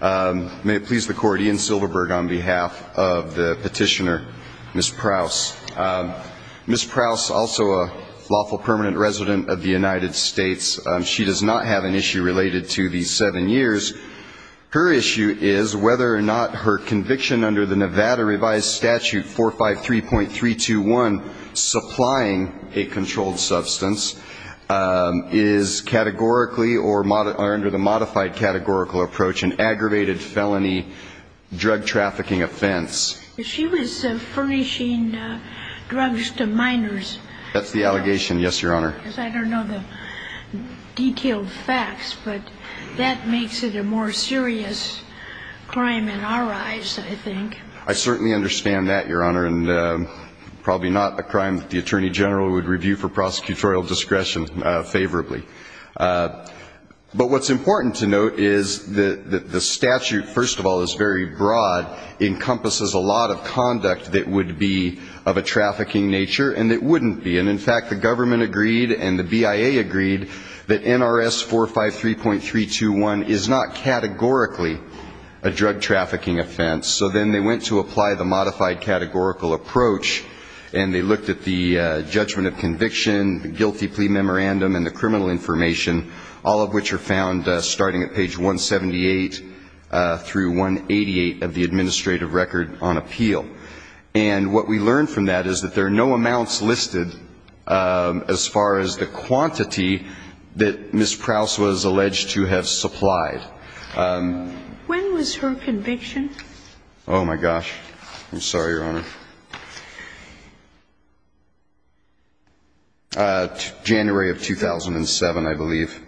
May it please the Court, Ian Silverberg on behalf of the petitioner, Ms. Prouse. Ms. Prouse, also a lawful permanent resident of the United States, she does not have an issue related to these seven years. Her issue is whether or not her conviction under the Nevada Revised Statute 453.321, supplying a controlled substance is categorically or under the modified categorical approach an aggravated felony drug trafficking offense. She was furnishing drugs to minors. That's the allegation, yes, Your Honor. I don't know the detailed facts, but that makes it a more serious crime in our eyes, I think. I certainly understand that, Your Honor, and probably not a crime that the Attorney General would review for prosecutorial discretion favorably. But what's important to note is that the statute, first of all, is very broad, encompasses a lot of conduct that would be of a trafficking nature and it wouldn't be. And, in fact, the government agreed and the BIA agreed that NRS 453.321 is not categorically a drug trafficking offense. So then they went to apply the modified categorical approach and they looked at the judgment of conviction, the guilty plea memorandum and the criminal information, all of which are found starting at page 178 through 188 of the administrative record on appeal. And what we learned from that is that there are no amounts listed as far as the quantity that Ms. Prowse was alleged to have supplied. When was her conviction? Oh, my gosh. I'm sorry, Your Honor. January of 2007, I believe.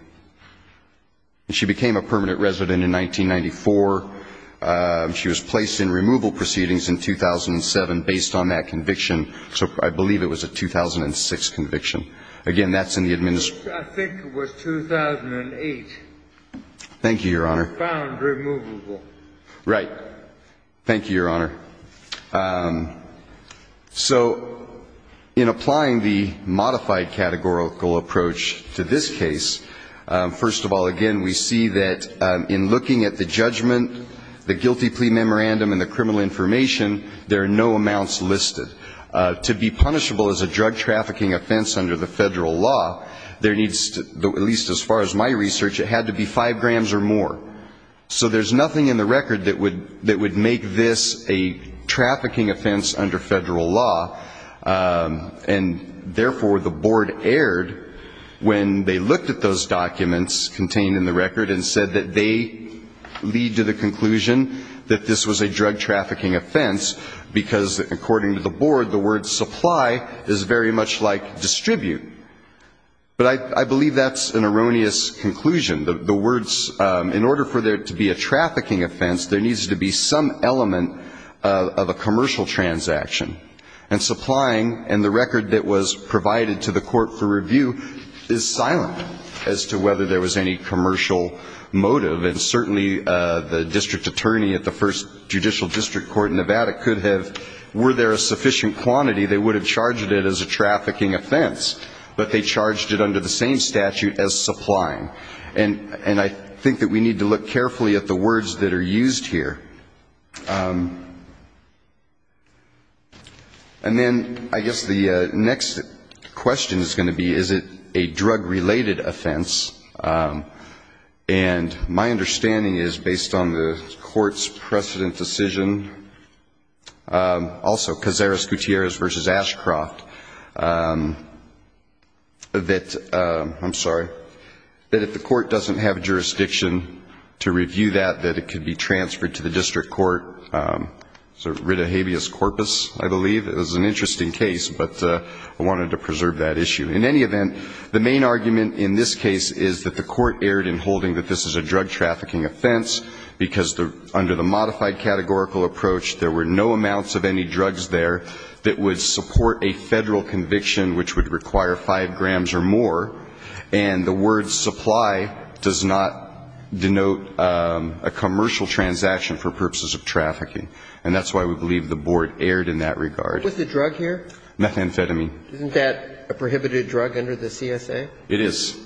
And she became a permanent resident in 1994. She was placed in removal proceedings in 2007 based on that conviction. So I believe it was a 2006 conviction. Again, that's in the administrative. I think it was 2008. Thank you, Your Honor. Found removable. Right. Thank you, Your Honor. So in applying the modified categorical approach to this case, first of all, again, we see that in looking at the judgment, the guilty plea memorandum and the criminal information, there are no amounts listed. To be punishable as a drug trafficking offense under the Federal law, at least as far as my research, it had to be five grams or more. So there's nothing in the record that would make this a trafficking offense under Federal law, and therefore the board erred when they looked at those documents contained in the record and said that they lead to the conclusion that this was a drug trafficking offense, because according to the board, the word supply is very much like distribute. But I believe that's an erroneous conclusion. The words, in order for there to be a trafficking offense, there needs to be some element of a commercial transaction. And supplying, and the record that was provided to the court for review, is silent as to whether there was any commercial motive. And certainly the district attorney at the first judicial district court in Nevada could have, were there a sufficient quantity, they would have charged it as a trafficking offense, but they charged it under the same statute as supplying. And I think that we need to look carefully at the words that are used here. And then I guess the next question is going to be, is it a drug-related offense? And my understanding is, based on the court's precedent decision, also Cazares-Gutierrez v. Ashcroft, that, I'm sorry, that if the court doesn't have a jurisdiction to review that, that it could be transferred to the district court, sort of rid of habeas corpus, I believe. It was an interesting case, but I wanted to preserve that issue. In any event, the main argument in this case is that the court erred in holding that this is a drug trafficking offense, because under the modified categorical approach, there were no amounts of any drugs there that would support a Federal conviction which would require 5 grams or more. And the word supply does not denote a commercial transaction for purposes of trafficking. And that's why we believe the board erred in that regard. What's the drug here? Methamphetamine. Isn't that a prohibited drug under the CSA? It is.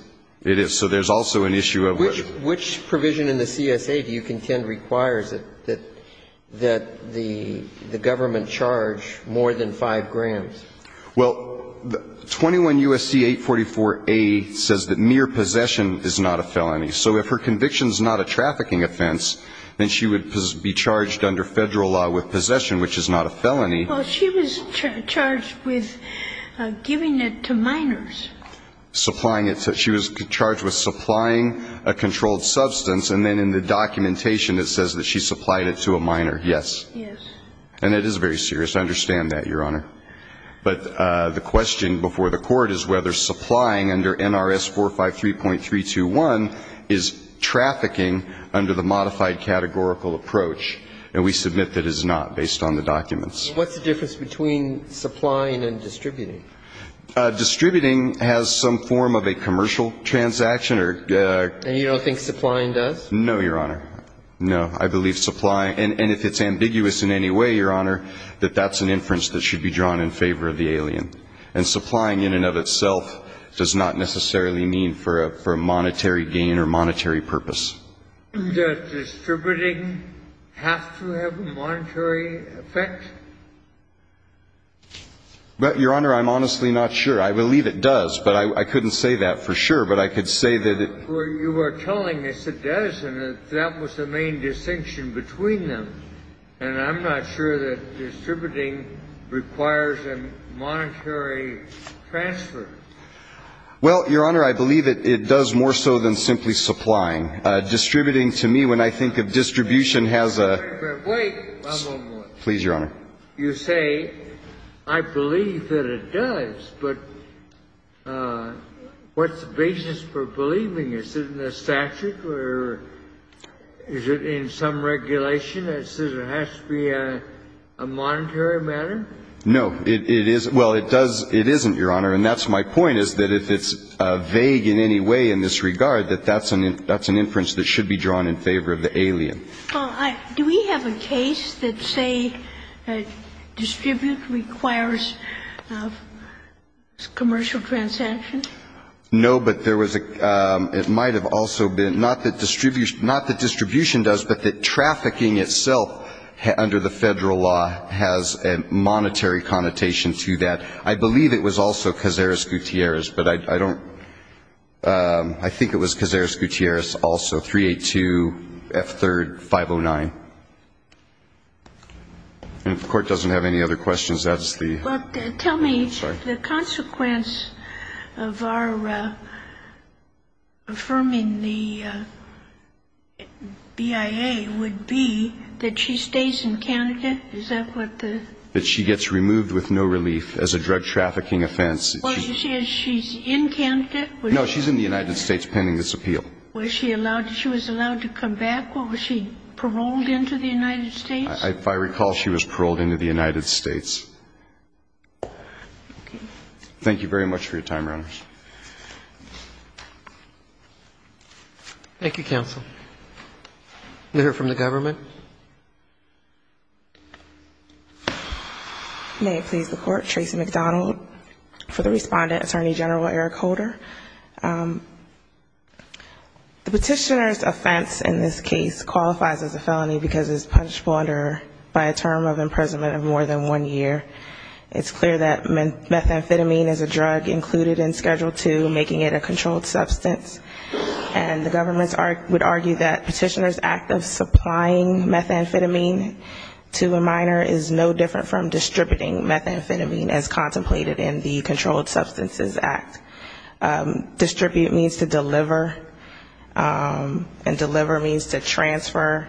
It is. So there's also an issue of what ---- Which provision in the CSA do you contend requires that the government charge more than 5 grams? Well, 21 U.S.C. 844a says that mere possession is not a felony. So if her conviction is not a trafficking offense, then she would be charged under Federal law with possession, which is not a felony. Well, she was charged with giving it to minors. Supplying it to ---- she was charged with supplying a controlled substance, and then in the documentation it says that she supplied it to a minor. Yes. Yes. And it is very serious. I understand that, Your Honor. But the question before the court is whether supplying under NRS 453.321 is trafficking under the modified categorical approach. And we submit that it is not, based on the documents. What's the difference between supplying and distributing? Distributing has some form of a commercial transaction or ---- And you don't think supplying does? No, Your Honor. No. I believe supplying ---- and if it's ambiguous in any way, Your Honor, that that's an inference that should be drawn in favor of the alien. And supplying in and of itself does not necessarily mean for a monetary gain or monetary purpose. Does distributing have to have a monetary effect? Your Honor, I'm honestly not sure. I believe it does. But I couldn't say that for sure. But I could say that it ---- Well, you were telling us it does, and that was the main distinction between them. And I'm not sure that distributing requires a monetary transfer. Well, Your Honor, I believe it does more so than simply supplying. Distributing to me, when I think of distribution, has a ---- Wait. One moment. Please, Your Honor. You say, I believe that it does. But what's the basis for believing? Is it in the statute or is it in some regulation that says it has to be a monetary matter? No. It is ---- Well, it does ---- It isn't, Your Honor. And that's my point, is that if it's vague in any way in this regard, that that's an inference that should be drawn in favor of the alien. Well, I ---- Do we have a case that say distribute requires commercial transaction? No. But there was a ---- It might have also been, not that distribution does, but that trafficking itself under the Federal law has a monetary connotation to that. I believe it was also Cazares-Gutierrez, but I don't ---- I think it was Cazares-Gutierrez also, 382F3-509. And if the Court doesn't have any other questions, that's the ---- Well, tell me, the consequence of our affirming the BIA would be that she stays in Canada? Is that what the ---- That she gets removed with no relief as a drug trafficking offense. Was she ---- Is she in Canada? Was she ---- No. She's in the United States pending this appeal. Was she allowed to ---- She was allowed to come back? Was she paroled into the United States? If I recall, she was paroled into the United States. Okay. Thank you very much for your time, Your Honors. Thank you, counsel. We'll hear from the government. May it please the Court. Tracy McDonald for the Respondent, Attorney General Eric Holder. The Petitioner's offense in this case qualifies as a felony because it's punishable under ---- by a term of imprisonment of more than one year. It's clear that methamphetamine is a drug included in Schedule II, making it a controlled substance. And the government would argue that Petitioner's act of supplying methamphetamine to a minor is no different from distributing methamphetamine as contemplated in the Controlled Substances Act. Distribute means to deliver, and deliver means to transfer.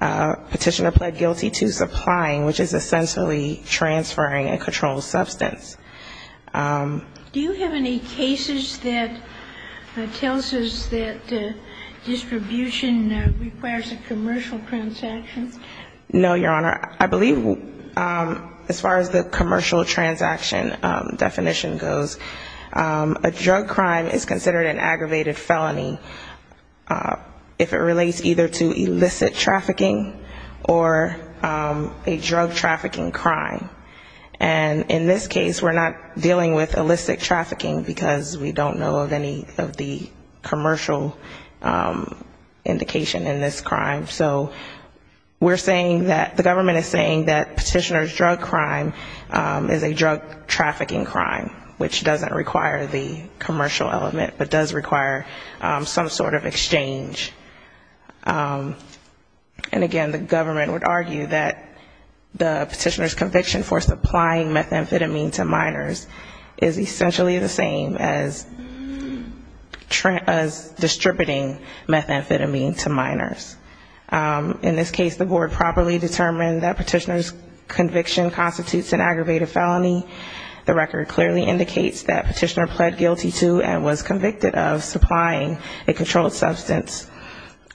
Petitioner pled guilty to supplying, which is essentially transferring a controlled substance. Do you have any cases that tells us that distribution requires a commercial transaction? No, Your Honor. I believe as far as the commercial transaction definition goes, a drug crime is considered an aggravated felony if it relates either to illicit trafficking or a drug trafficking crime. And in this case, we're not dealing with illicit trafficking because we don't know of any of the commercial indication in this crime. So we're saying that, the government is saying that Petitioner's drug crime is a drug trafficking crime, which doesn't require the commercial element, but does require some sort of exchange. And again, the government would argue that the Petitioner's conviction for supplying methamphetamine to minors is essentially the same as distributing methamphetamine to minors. In this case, the board properly determined that Petitioner's conviction constitutes an aggravated felony. The record clearly indicates that Petitioner pled guilty to and was convicted of supplying a controlled substance.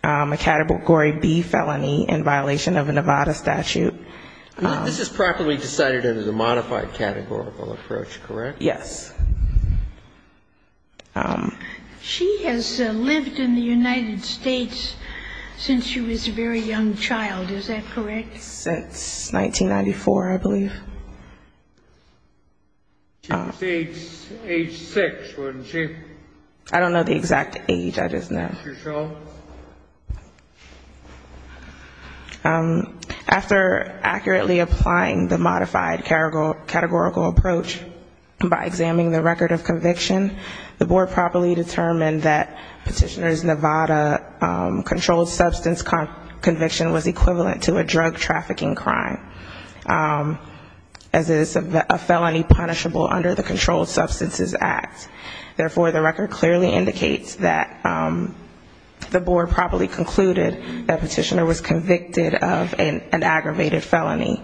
A category B felony in violation of a Nevada statute. This is properly decided as a modified categorical approach, correct? Yes. She has lived in the United States since she was a very young child, is that correct? Since 1994, I believe. She was age six, wasn't she? I don't know the exact age, I just know. After accurately applying the modified categorical approach by examining the record of conviction, the board properly determined that Petitioner's Nevada controlled substance conviction was equivalent to a drug trafficking crime. As is a felony punishable under the Controlled Substances Act. Therefore, the record clearly indicates that the board properly concluded that Petitioner was convicted of an aggravated felony.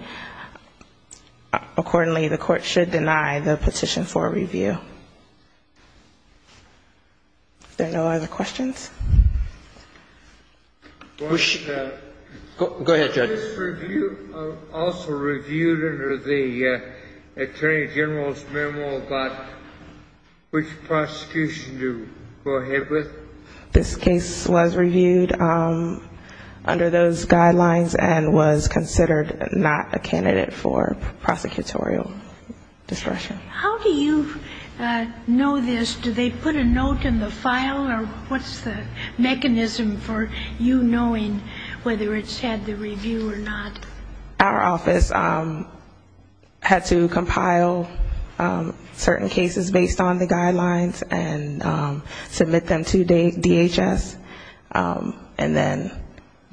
Accordingly, the court should deny the petition for review. Are there no other questions? Go ahead, Judge. Was this review also reviewed under the Attorney General's memo about which prosecution to go ahead with? This case was reviewed under those guidelines and was considered not a candidate for prosecutorial discretion. How do you know this? Do they put a note in the file or what's the mechanism for you knowing whether it's had the review or not? Our office had to compile certain cases based on the guidelines and submit them to DHS. And then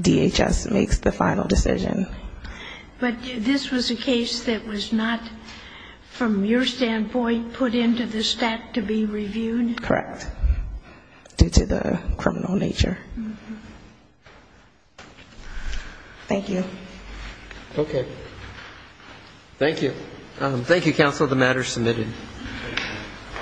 DHS makes the final decision. But this was a case that was not, from your standpoint, put into the stack to be reviewed? Correct. Due to the criminal nature. Thank you.